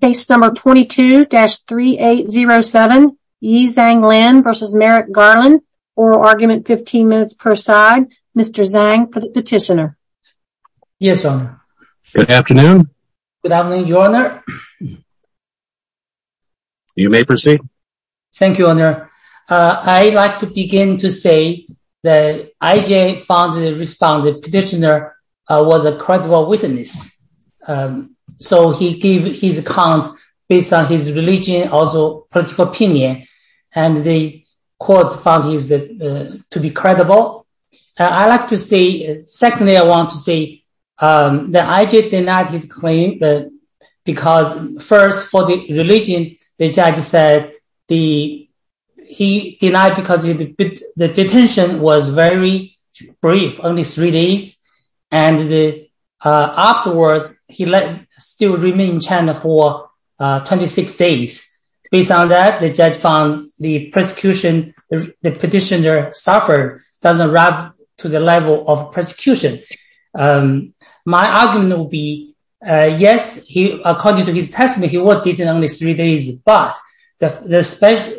Case number 22-3807 Yi Zhang Lin v. Merrick Garland Oral argument 15 minutes per side Mr. Zhang for the petitioner Yes, Your Honor Good afternoon Good afternoon, Your Honor You may proceed Thank you, Your Honor I'd like to begin to say that IJ found and responded Petitioner was a credible witness So he gave his account based on his religion Also political opinion And the court found him to be credible I'd like to say Secondly, I want to say that IJ denied his claim Because first, for the religion, the judge said He denied because the detention was very brief Only three days And afterwards, he still remained in China for 26 days Based on that, the judge found the persecution The petitioner suffered doesn't rub to the level of persecution My argument would be Yes, according to his testimony, he was detained only three days But the special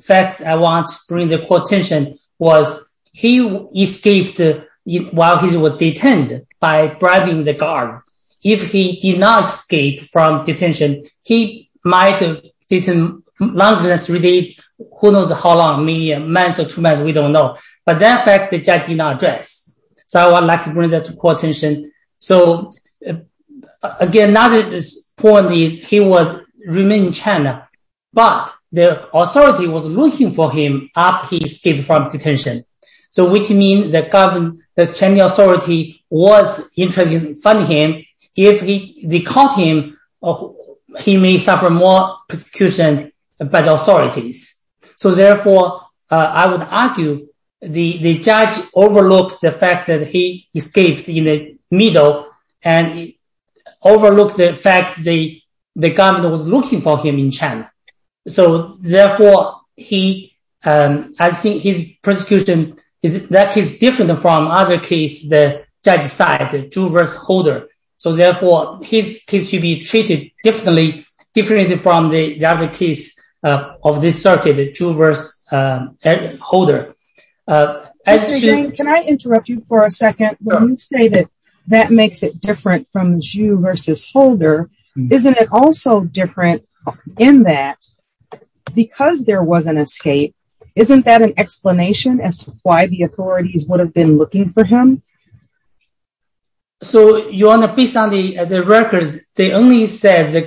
fact I want to bring to the court's attention Was he escaped while he was detained by bribing the guard If he did not escape from detention He might have been in prison longer than three days Who knows how long, maybe a month or two months We don't know But that fact, the judge did not address So I would like to bring that to court's attention So again, another point is he remained in China But the authority was looking for him after he escaped from detention So which means the Chinese authority was interested in finding him If they caught him, he may suffer more persecution by the authorities So therefore, I would argue the judge overlooked the fact That he escaped in the middle And he overlooked the fact that the government was looking for him in China So therefore, I think his persecution is different from other cases The judge's side, the juror's holder So therefore, he should be treated differently Different from the other cases of this circuit, the juror's holder When you say that that makes it different from juror versus holder Isn't it also different in that because there was an escape Isn't that an explanation as to why the authorities would have been looking for him? So your honor, based on the records They only said that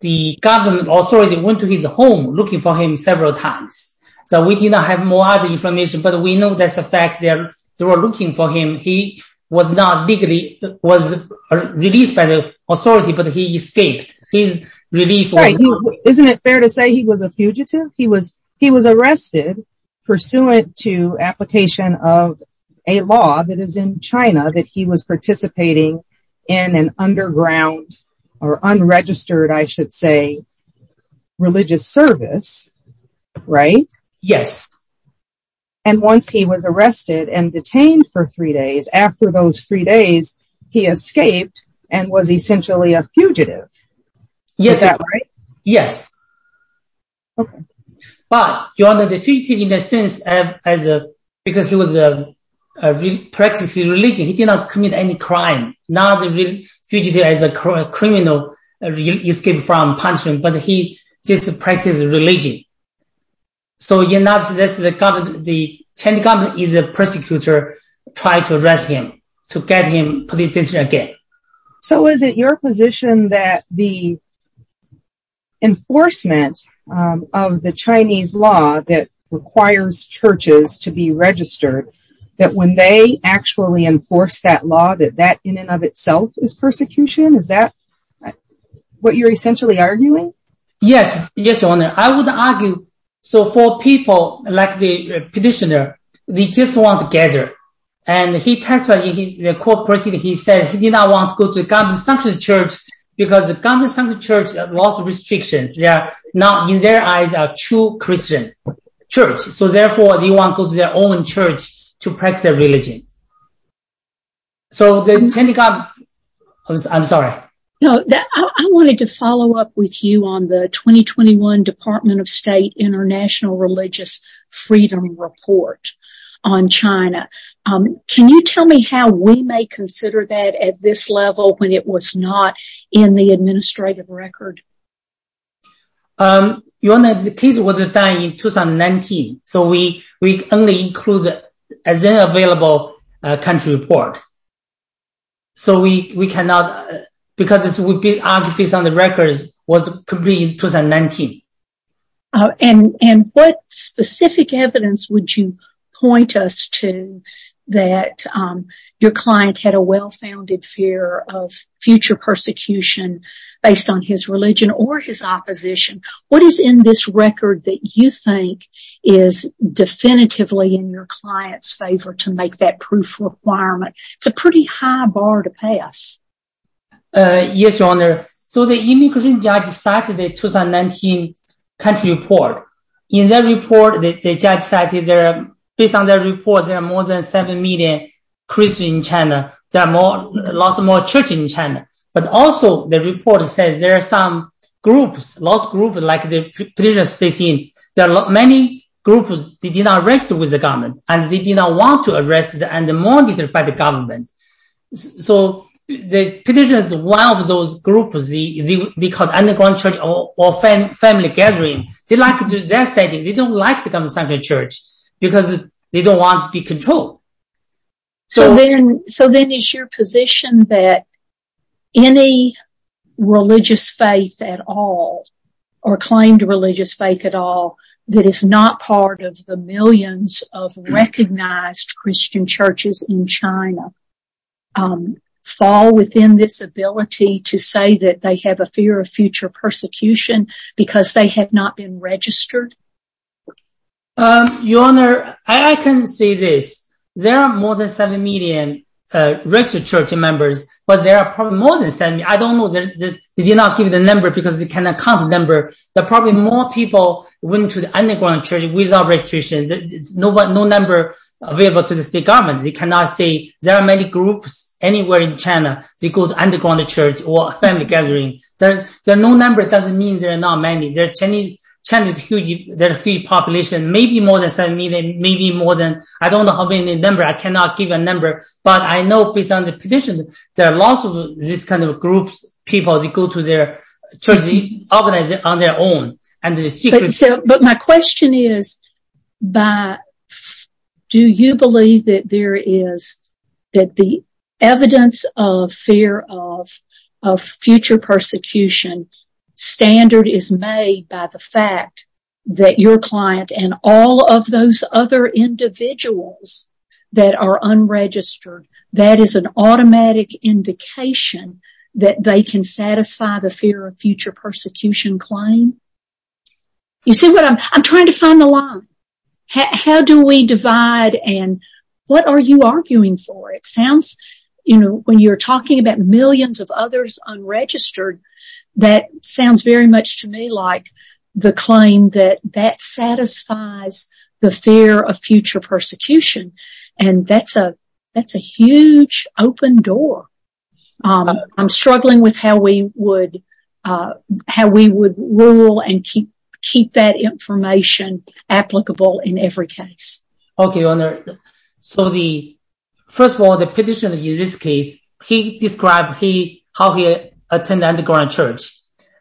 the government authority went to his home Looking for him several times We do not have more information But we know that's the fact that they were looking for him He was not legally released by the authority But he escaped Isn't it fair to say he was a fugitive? He was arrested pursuant to application of a law that is in China That he was participating in an underground or unregistered, I should say Religious service, right? Yes And once he was arrested and detained for three days After those three days, he escaped and was essentially a fugitive Yes Is that right? Yes Okay But your honor, the fugitive in a sense Because he was practicing religion He did not commit any crime Not a fugitive as a criminal Escaped from punishment But he just practiced religion So you're not suggesting that the Chinese government is a persecutor Trying to arrest him To get him political again So is it your position that the enforcement of the Chinese law That requires churches to be registered That when they actually enforce that law That that in and of itself is persecution? Is that what you're essentially arguing? Yes, yes, your honor I would argue So for people like the petitioner They just want to gather And he testified The court proceeding He said he did not want to go to a government-sanctioned church Because the government-sanctioned church has lots of restrictions They are not, in their eyes, a true Christian church So therefore they want to go to their own church To practice their religion So the Chinese government I'm sorry I wanted to follow up with you On the 2021 Department of State International Religious Freedom Report on China Can you tell me how we may consider that At this level When it was not in the administrative record? Your honor, the case was done in 2019 So we only included As an available country report So we cannot Because it's based on the records It was completed in 2019 And what specific evidence would you point us to That your client had a well-founded fear Of future persecution Based on his religion or his opposition? What is in this record that you think Is definitively in your client's favor To make that proof of requirement? It's a pretty high bar to pass Yes, your honor So the immigration judge cited the 2019 country report In that report The judge cited Based on that report There are more than 7 million Christians in China There are lots more churches in China But also the report says There are some groups Lots of groups Like the petitioner says There are many groups They did not rest with the government And they did not want to arrest And be monitored by the government So the petitioner is one of those groups They call it an underground church Or family gathering They like to do that setting They don't like the conventional church Because they don't want to be controlled So then it's your position that Any religious faith at all Or claimed religious faith at all That is not part of the millions of Recognized Christian churches in China Fall within this ability to say That they have a fear of future persecution Because they have not been registered? Your honor I can say this There are more than 7 million registered church members But there are probably more than 7 million I don't know They did not give the number Because they cannot count the number There are probably more people Going to the underground church without registration No number available to the state government They cannot say There are many groups anywhere in China They go to the underground church Or family gathering There are no numbers It doesn't mean there are not many China has a huge population Maybe more than 7 million Maybe more than I don't know how many numbers I cannot give a number But I know based on the petition There are lots of these kinds of groups People that go to their church And they organize it on their own But my question is Do you believe that there is That the evidence of fear of Future persecution Standard is made by the fact That your client and all of those other individuals That are unregistered That is an automatic indication That they can satisfy the fear of Future persecution claim You see what I'm trying to find the line How do we divide And what are you arguing for It sounds When you're talking about Millions of others unregistered That sounds very much to me like The claim that that satisfies The fear of future persecution And that's a huge open door I'm struggling with how we would How we would rule and keep Keep that information Applicable in every case Okay Your Honor So the First of all the petitioner in this case He described he How he attended an underground church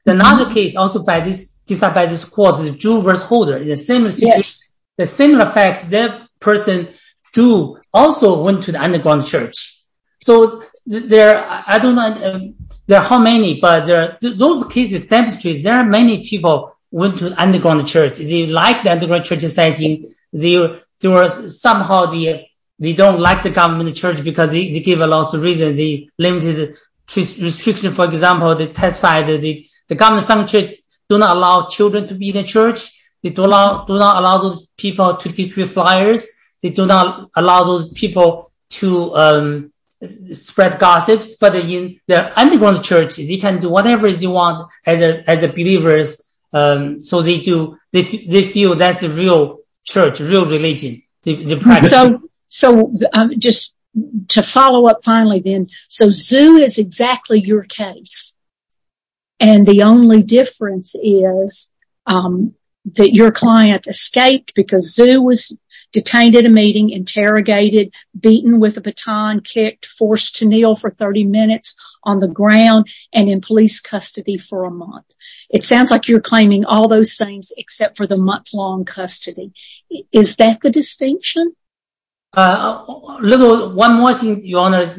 Another case also by this Discussed by this court Is Jew vs. Holder Yes The similar facts That person too Also went to the underground church So there I don't know There are how many But there are Those cases demonstrate There are many people Went to an underground church They like the underground church They were somehow They don't like the government church Because they give a lot of reasons They limited the restriction For example They testified that the government church Do not allow children to be in the church They do not allow those people To distribute flyers They do not allow those people To spread gossips But in the underground church They can do whatever they want As believers So they do They feel that's the real church Real religion The practice So Just to follow up finally then So Zhu is exactly your case And the only difference is That your client escaped Because Zhu was detained at a meeting Interrogated Beaten with a baton Kicked Forced to kneel for 30 minutes On the ground And in police custody for a month It sounds like you're claiming all those things Except for the month-long custody Is that the distinction? A little One more thing, Your Honor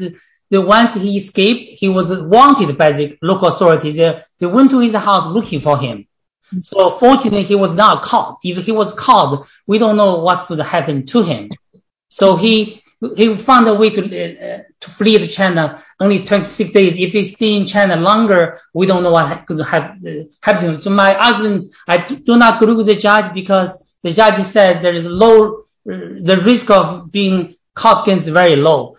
Once he escaped He was wanted by the local authorities They went to his house looking for him So fortunately he was not caught If he was caught We don't know what could happen to him So he found a way to flee to China Only 26 days If he stays in China longer We don't know what could happen to him So my argument I do not agree with the judge Because the judge said There is low The risk of being caught is very low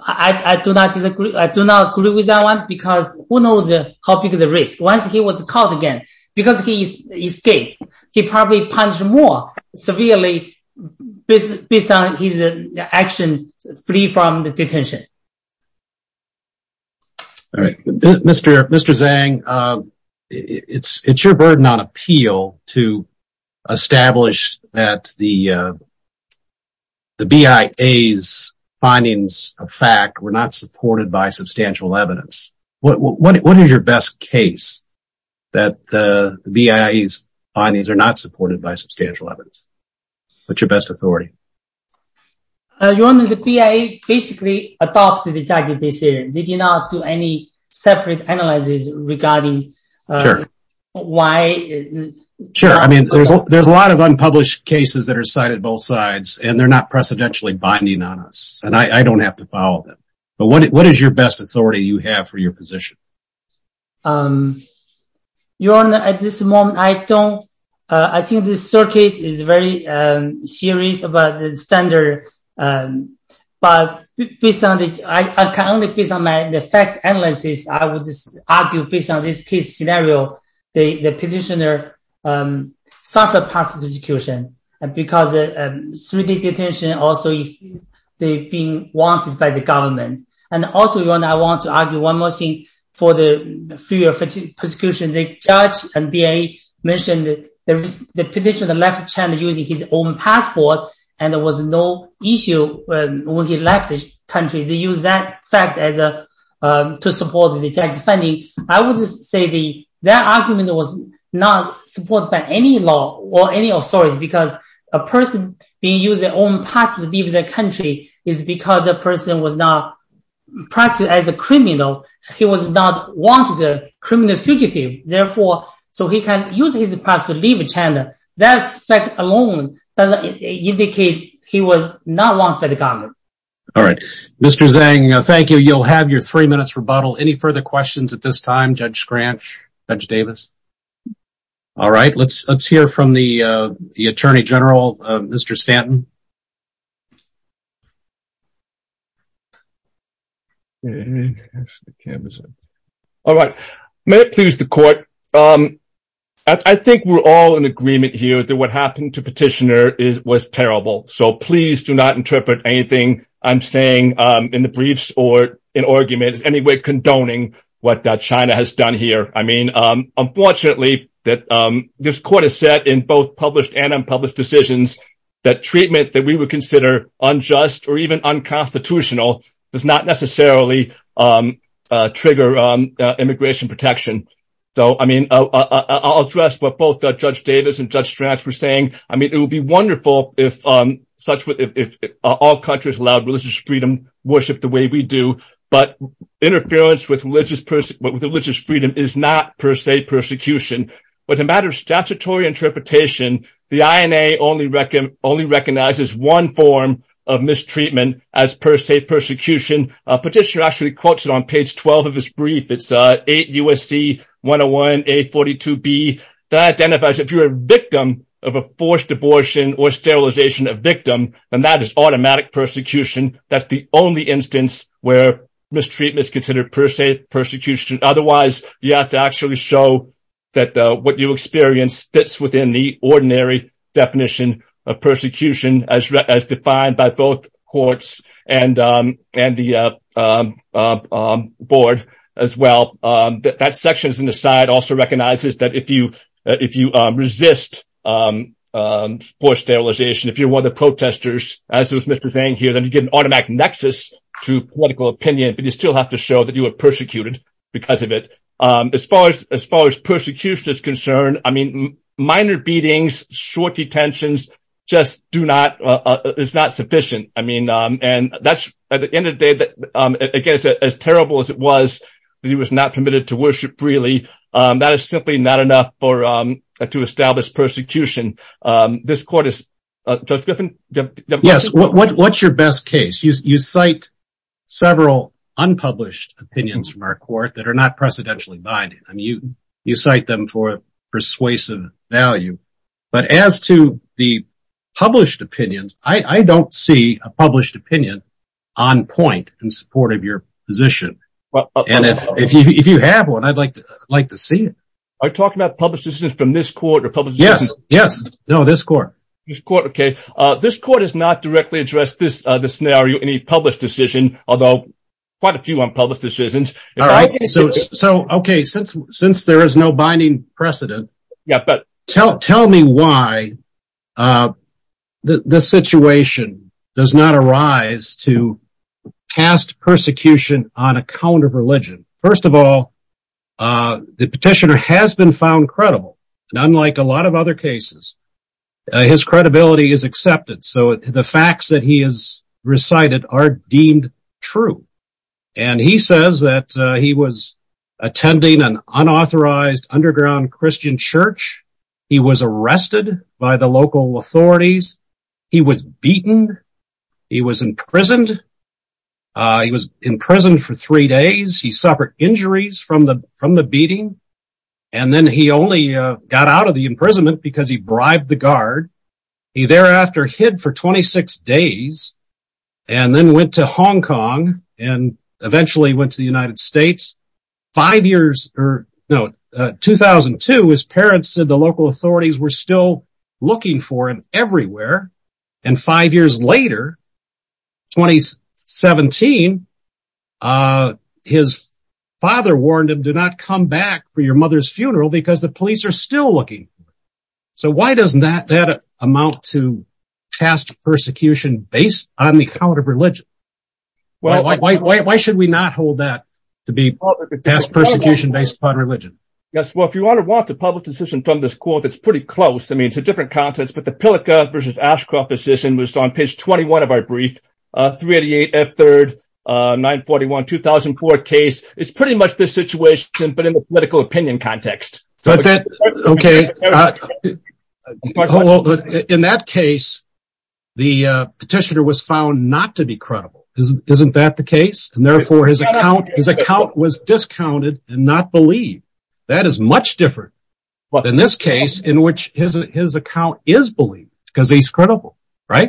I do not disagree I do not agree with that one Because who knows how big the risk is Once he was caught again Because he escaped He probably punished more severely Based on his action Flee from the detention All right Mr. Zhang It's your burden on appeal To establish that the The BIA's findings of fact What is your best case That the BIA's findings Are not supported by substantial evidence What's your best authority Your Honor, the BIA Basically adopted exactly the same They did not do any separate analysis Regarding Sure Why Sure, I mean There's a lot of unpublished cases That are cited both sides And they're not precedentially binding on us And I don't have to follow them But what is your best authority You have for your position Your Honor, at this moment I don't I think the circuit is very Serious about the standard But Based on the I can only base on my The fact analysis I would just argue Based on this case scenario The petitioner Suffered past persecution Because 3-day detention also is Being wanted by the government And also, Your Honor I want to argue one more thing For the fear of persecution The judge and BIA mentioned The petitioner left China Using his own passport And there was no issue When he left the country They used that fact as a To support the tax defending I would just say Their argument was not Supported by any law Or any authority Because a person being used Their own passport to leave the country Is because the person was not Practiced as a criminal He was not wanted As a criminal fugitive Therefore So he can use his passport to leave China That fact alone Doesn't indicate he was Not wanted by the government All right Mr. Zhang, thank you You'll have your 3 minutes rebuttal Any further questions at this time? Judge Scranch? Judge Davis? All right Let's hear from the Attorney General Mr. Stanton All right May it please the court I think we're all in agreement here That what happened to petitioner Was terrible So please do not interpret anything I'm saying In the briefs Or in arguments As any way condoning What China has done here This court has said In both published and unpublished decisions That treatment Of the Chinese Is a crime And that it is Treatment that we would consider Unjust or even unconstitutional Does not necessarily Trigger immigration protection So I mean I'll address what both Judge Davis And Judge Scranch were saying It would be wonderful If all countries allowed religious freedom Worship the way we do But interference with religious Freedom is not Per se persecution But as a matter of statutory interpretation The INA only recognizes One form of mistreatment As per se persecution Petitioner actually quotes it On page 12 of his brief It's 8 U.S.C. 101 A42B That identifies If you're a victim of a forced abortion Or sterilization of victim Then that is automatic persecution That's the only instance where Mistreatment is considered per se persecution Otherwise you have to actually show That what you experience Fits within the ordinary Definition of persecution As defined by both courts And the Board As well That section on the side also recognizes That if you resist Forced sterilization If you're one of the protesters As was Mr. Zhang here Then you get an automatic nexus to political opinion But you still have to show that you were persecuted Because of it As far as persecution Is concerned Minor beatings, short detentions Just do not It's not sufficient At the end of the day As terrible as it was He was not permitted to worship freely That is simply not enough To establish persecution This court is Judge Griffin? What's your best case? You cite several unpublished Opinions from our court That are not precedentially binding You cite them for persuasive value But as to The published opinions I don't see a published opinion On point In support of your position If you have one I'd like to see it Are you talking about published decisions from this court? Yes, this court This court has not directly addressed This scenario I'm not going to argue any published decision Although quite a few unpublished decisions Since there is no binding precedent Tell me why This situation Does not arise to Cast persecution On account of religion First of all The petitioner has been found credible Unlike a lot of other cases His credibility is accepted So the facts that he has Recited are deemed true And he says that He was attending An unauthorized underground Christian church He was arrested by the local authorities He was beaten He was imprisoned He was imprisoned For three days He suffered injuries from the beating And then he only Got out of the imprisonment Because he bribed the guard He thereafter hid for 26 days And then went to Hong Kong And eventually went to the United States 2002 His parents said The local authorities were still Looking for him everywhere And five years later 2017 His father warned him Do not come back for your mother's funeral Because the police are still looking So why does that Amount to Cast persecution Based on the account of religion Why should we not hold that To be cast persecution based upon religion Yes well if you want to Publish a decision from this court It's pretty close I mean it's a different context But the Pillica vs Ashcroft decision Was on page 21 of our brief 388 F3rd 941 2004 case It's pretty much this situation But in the political opinion context Okay In that case The petitioner Was found not to be credible Isn't that the case And therefore his account was discounted And not believed That is much different than this case In which his account Is believed because he's credible Right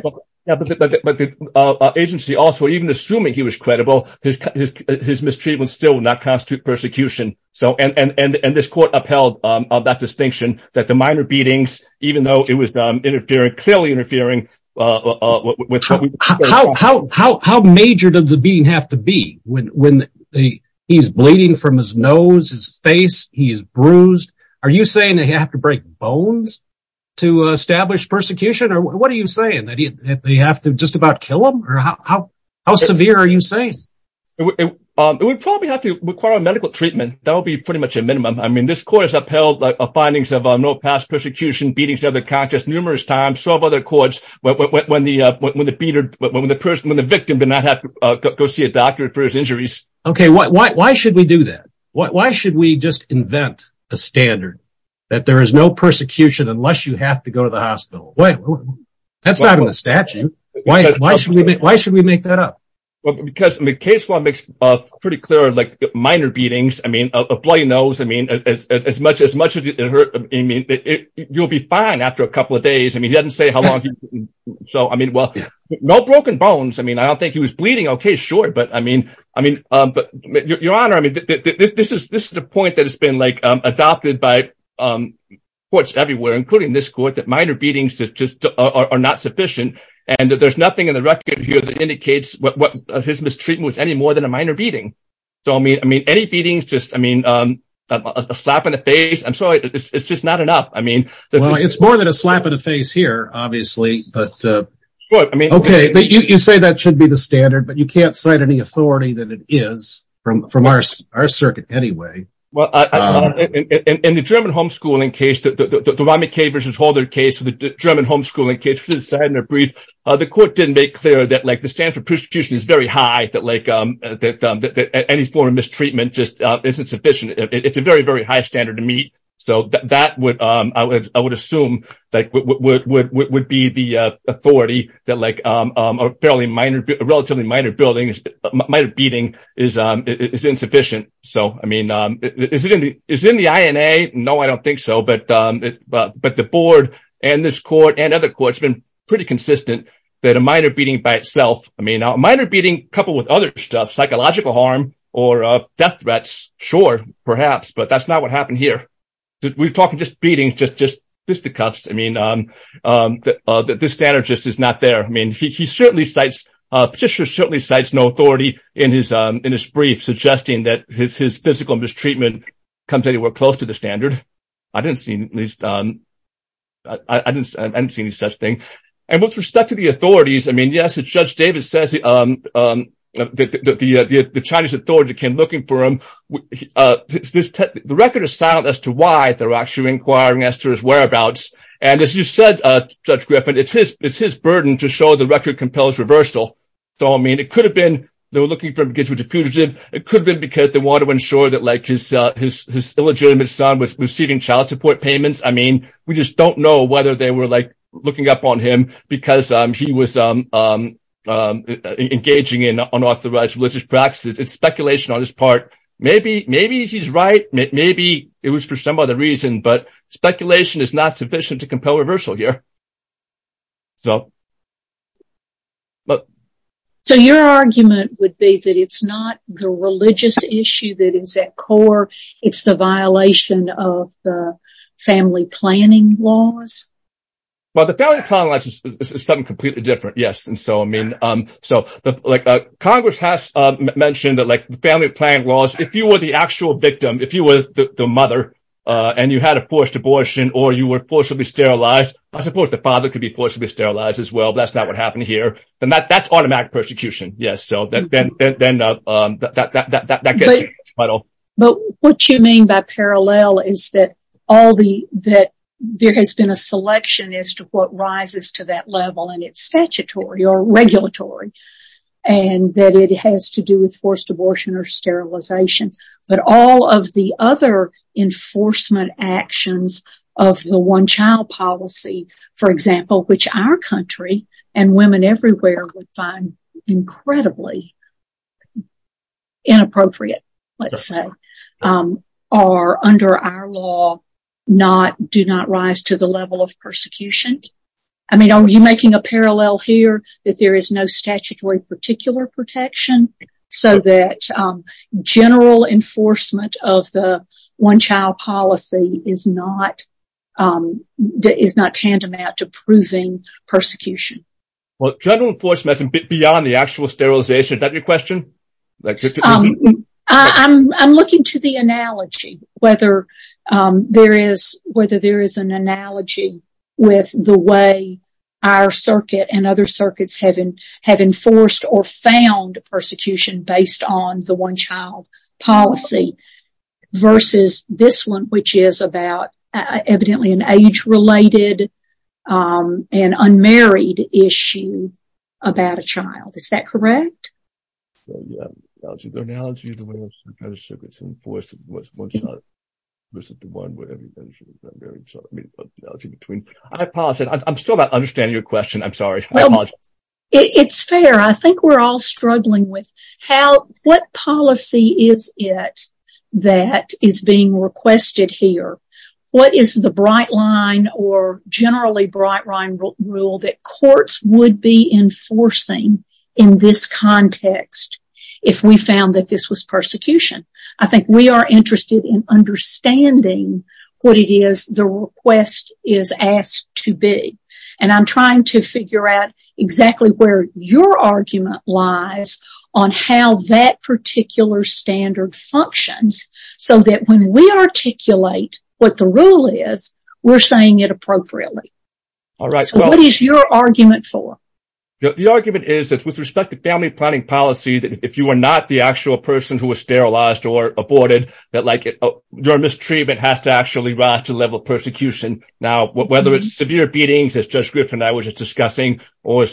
Agency also even assuming he was credible His mistreatment Still would not constitute persecution And this court upheld That distinction that the minor beatings Even though it was interfering Clearly interfering How Major does the beating have to be When he's bleeding From his nose, his face He is bruised Are you saying they have to break bones To establish persecution Or what are you saying They have to just about kill him Or how severe are you saying We probably have to Require medical treatment That would be pretty much a minimum I mean this court has upheld Findings of no past persecution Beatings to the conscious numerous times When the victim did not have to Go see a doctor for his injuries Okay why should we do that Why should we just invent A standard that there is no Persecution unless you have to go to the hospital That's not in the statute Why should we make that up Because the case law makes Pretty clear like minor beatings I mean a bloody nose As much as it hurt You'll be fine after a couple of days He doesn't say how long So I mean well No broken bones I mean I don't think he was bleeding Okay sure but I mean Your honor this is The point that has been like adopted By courts everywhere Including this court that minor beatings Are not sufficient And there's nothing in the record here that indicates His mistreatment was any more than A minor beating so I mean Any beatings just I mean A slap in the face I'm sorry it's just Not enough I mean It's more than a slap in the face here obviously But okay You say that should be the standard but you can't Cite any authority that it is From our circuit anyway In the German Homeschooling case The Rami K versus Holder case The German homeschooling case The court didn't make clear that the standard For prostitution is very high That any form of mistreatment Isn't sufficient it's a very very High standard to meet so that I would assume Would be the Authority that like A relatively minor beating Is Insufficient so I mean Is it in the INA No I don't think so but But the board and this court And other courts have been pretty consistent That a minor beating by itself A minor beating coupled with other stuff Psychological harm or Death threats sure perhaps But that's not what happened here We're talking just beatings just fisticuffs I mean This standard just is not there I mean He certainly cites No authority in his Brief suggesting that his physical Mistreatment comes anywhere close to the Standard I didn't see I didn't See any such thing and with respect To the authorities I mean yes Judge David Says The Chinese authority came looking For him The record is silent as to why they're Actually inquiring as to his whereabouts And as you said Judge Griffin It's his burden to show the record Compels reversal so I mean it could Have been they were looking for him It could have been because they wanted to ensure That his illegitimate son Was receiving child support payments I mean we just don't know whether they were Looking up on him because He was Engaging in unauthorized Religious practices it's speculation on his part Maybe he's right Maybe it was for some other reason But speculation is not sufficient To compel reversal here So But So your argument would be That it's not the religious issue That is at core It's the violation of the Family planning laws Well the family planning Is something completely different yes And so I mean so Congress has mentioned that Family planning laws if you were the actual Victim if you were the mother And you had a forced abortion Or you were forcibly sterilized I suppose the father could be forcibly sterilized As well but that's not what happened here That's automatic persecution yes Then But What you mean by parallel is that All the There has been a selection as to what Rises to that level and it's statutory Or regulatory And that it has to do with Forced abortion or sterilization But all of the other Enforcement actions Of the one child policy For example which our country And women everywhere would find Incredibly Inappropriate Let's say Are under our law Not do not rise to the level Of persecution I mean are you making a parallel here That there is no statutory particular Protection so that General enforcement Of the one child policy Is not Is not tantamount to proving Persecution Well general enforcement is a bit beyond the actual Sterilization is that your question? I'm Looking to the analogy Whether there is Whether there is an analogy With the way our Circuit and other circuits have Enforced or found Persecution based on the one child Policy Versus this one Which is about Evidently an age related And unmarried Issue about a child Is that correct? I apologize I'm still not Understanding your question I'm sorry It's fair I think we're all Struggling with how What policy is it That is being Requested here what is The bright line or generally Bright line rule that Courts would be enforcing In this context If we found that this was Persecution I think we are interested In understanding What it is the request Is asked to be And I'm trying to figure out Exactly where your argument Lies on how that Particular standard functions So that when we Articulate what the rule is We're saying it appropriately So what is your Argument for? The argument is with respect to family planning policy If you are not the actual person Who was sterilized or aborted That like your mistreatment has to Actually rise to the level of persecution Now whether it's severe beatings As Judge Griffin and I were just discussing Or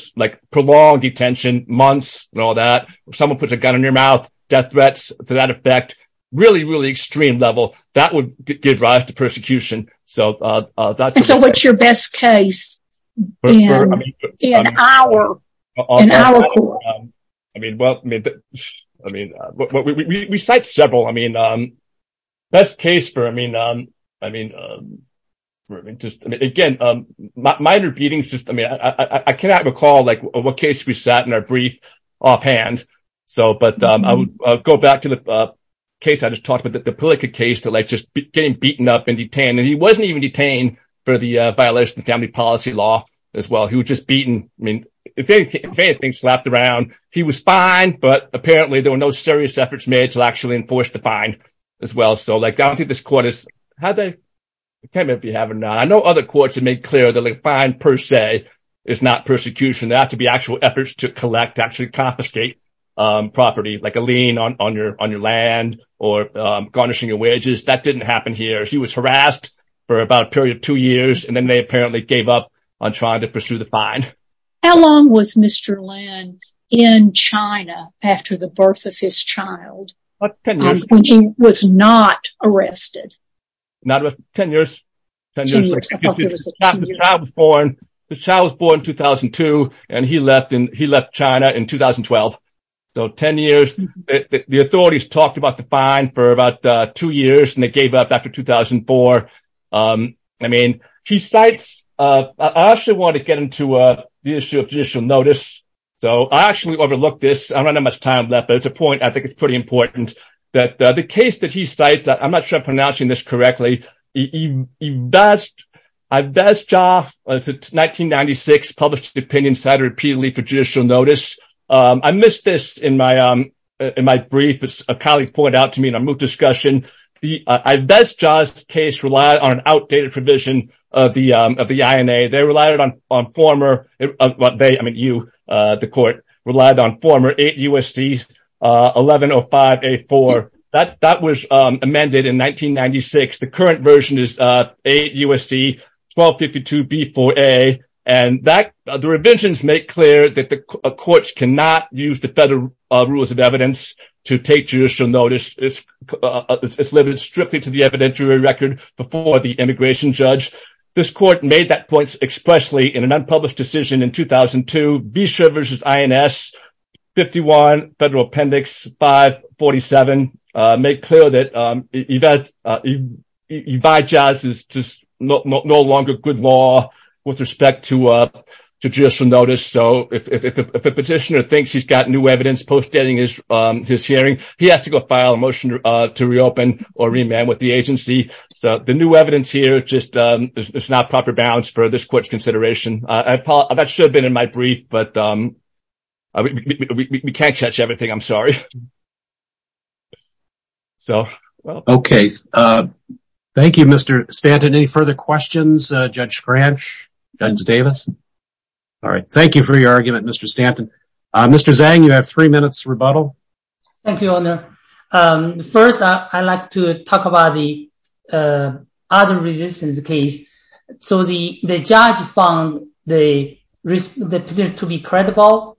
prolonged detention Months and all that If someone puts a gun in your mouth Death threats to that effect Really really extreme level That would give rise to persecution So what's your best case? In our court We cite several Best case for I mean Again minor beatings I cannot recall What case we sat in Offhand I would go back to the case I just talked about the Pelika case Getting beaten up and detained He wasn't even detained for the Family policy law as well He was just beaten If anything slapped around he was fine But apparently there were no serious efforts made To actually enforce the fine I don't think this court I know other courts have made clear That a fine per se is not persecution There have to be actual efforts to collect To actually confiscate property Like a lien on your land Or garnishing your wages That didn't happen here He was harassed for about a period of two years And then they apparently gave up On trying to pursue the fine How long was Mr. Lin in China After the birth of his child? Ten years When he was not arrested Ten years The child was born in 2002 And he left China in 2012 So ten years The authorities talked about the fine For about two years And they gave up after 2004 I mean he cites I actually wanted to get into The issue of judicial notice So I actually overlooked this I don't have much time left But it's a point I think is pretty important The case that he cites I'm not sure if I'm pronouncing this correctly Ives Jah It's 1996 Published an opinion cited repeatedly for judicial notice I missed this In my brief A colleague pointed out to me in a MOOC discussion Ives Jah's case relied On an outdated provision Of the INA They relied on former I mean you The court relied on former 8 U.S.C. 1105A4 That was amended In 1996 The current version is 8 U.S.C. 1252B4A And the revisions make clear That the courts cannot Use the federal rules of evidence To take judicial notice It's limited strictly To the evidentiary record Before the immigration judge This court made that point expressly In an unpublished decision in 2002 Beesha vs. INS 51 Federal Appendix 547 Made clear that Ives Jah's Is no longer good law With respect to Judicial notice So if a petitioner thinks he's got new evidence Post-dating his hearing He has to go file a motion to reopen Or remand with the agency So the new evidence here Is not proper balance for this court's Consideration That should have been in my brief But we can't catch everything I'm sorry Okay Thank you Mr. Stanton Any further questions Judge Scranch, Judge Davis Thank you for your argument Mr. Stanton Mr. Zhang you have 3 minutes rebuttal Thank you your honor First I'd like to talk about The other Resistance case So the judge found The petitioner to be credible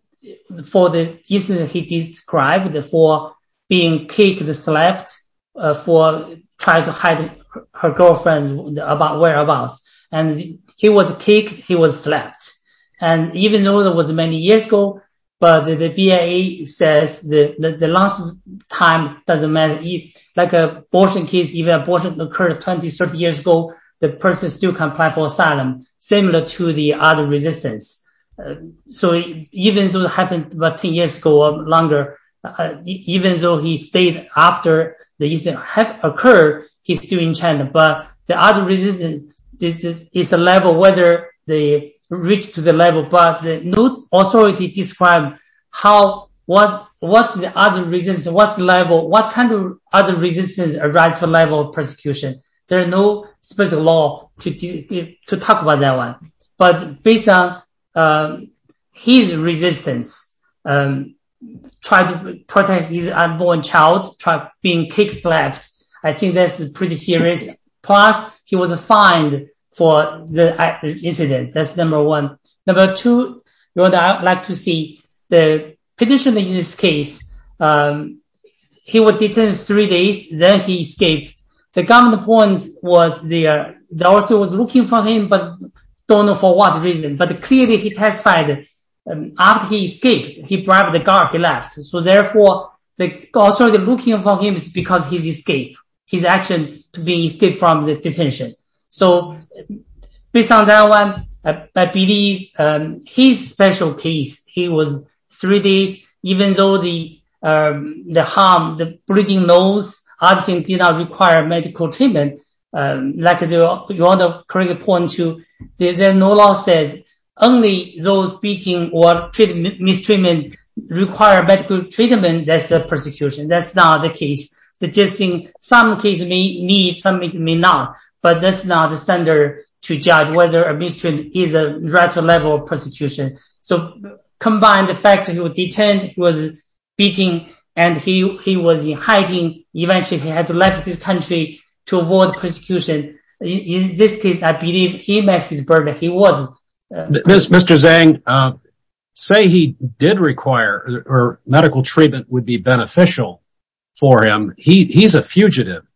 For the reasons he described For being kicked Slept For trying to hide Her girlfriend's whereabouts And he was kicked He was slept And even though it was many years ago But the BIA says The last time Doesn't matter Like abortion case Even abortion occurred 20-30 years ago The person still can apply for asylum Similar to the other resistance So even though it happened About 10 years ago or longer Even though he stayed after The incident had occurred He's still in China But the other resistance Is a level whether they Reached to the level But no authority Described What's the other resistance What kind of other resistance Arrived to the level of persecution There's no specific law To talk about that one But based on His resistance Trying to protect His unborn child Being kicked slept I think that's pretty serious Plus he was fined for the incident That's number one Number two, you would like to see The petitioner in this case He was detained Three days, then he escaped The government point was The officer was looking for him But don't know for what reason But clearly he testified After he escaped, he grabbed the guard He left, so therefore The officer looking for him is because he escaped His action to be Escaped from the detention So based on that one I believe His special case He was three days Even though the harm The bleeding nose Did not require medical treatment Like you want to Point to, there's no law Says only those Beating or mistreatment Require medical treatment That's a persecution, that's not the case But just in some cases Some may need, some may not But that's not the standard to judge Whether a mistreatment is a Level of persecution Combine the fact that he was detained He was beating And he was hiding Eventually he had to leave his country To avoid persecution In this case, I believe he made his verdict He wasn't Mr. Zhang, say he did require Medical treatment Would be beneficial for him He's a fugitive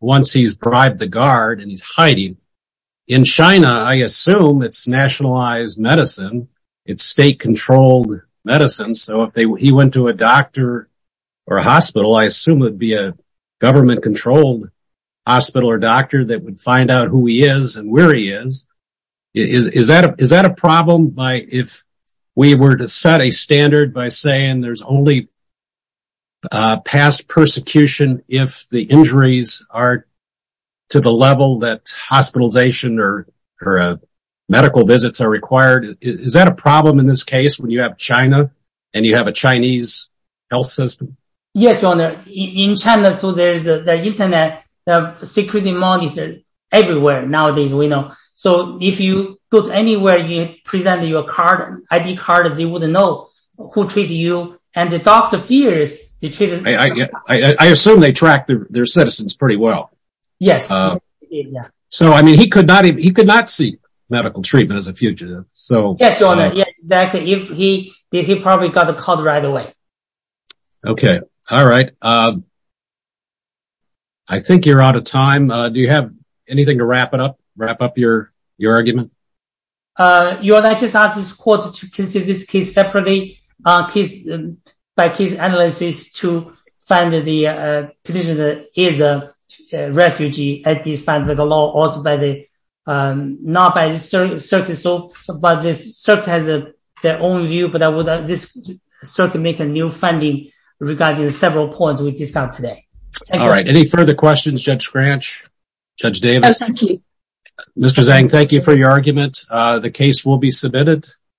Once he's bribed the guard and he's hiding In China I assume it's nationalized medicine It's state controlled Medicine, so if he went to A doctor or a hospital I assume it would be a government Controlled hospital or doctor That would find out who he is And where he is Is that a problem If we were to set a standard By saying there's only Past persecution If the injuries are To the level that Hospitalization or Medical visits are required Is that a problem in this case When you have China and you have a Chinese Health system Yes, your honor, in China There's internet security Monitored everywhere nowadays So if you go to anywhere You present your ID card They wouldn't know who I assume they track Their citizens pretty well Yes So he could not see Medical treatment as a fugitive Yes, your honor He probably got caught right away Okay, all right I think you're out of time Do you have anything to wrap up Your argument Your honor, I just asked the court To consider this case separately By case analysis To find the Petitioner is a Refugee Also by the Not by the circuit But the circuit has Their own view But the circuit make a new finding Regarding several points we discussed today All right, any further questions Judge Scranch Judge Davis Mr. Zhang, thank you for your argument The case will be submitted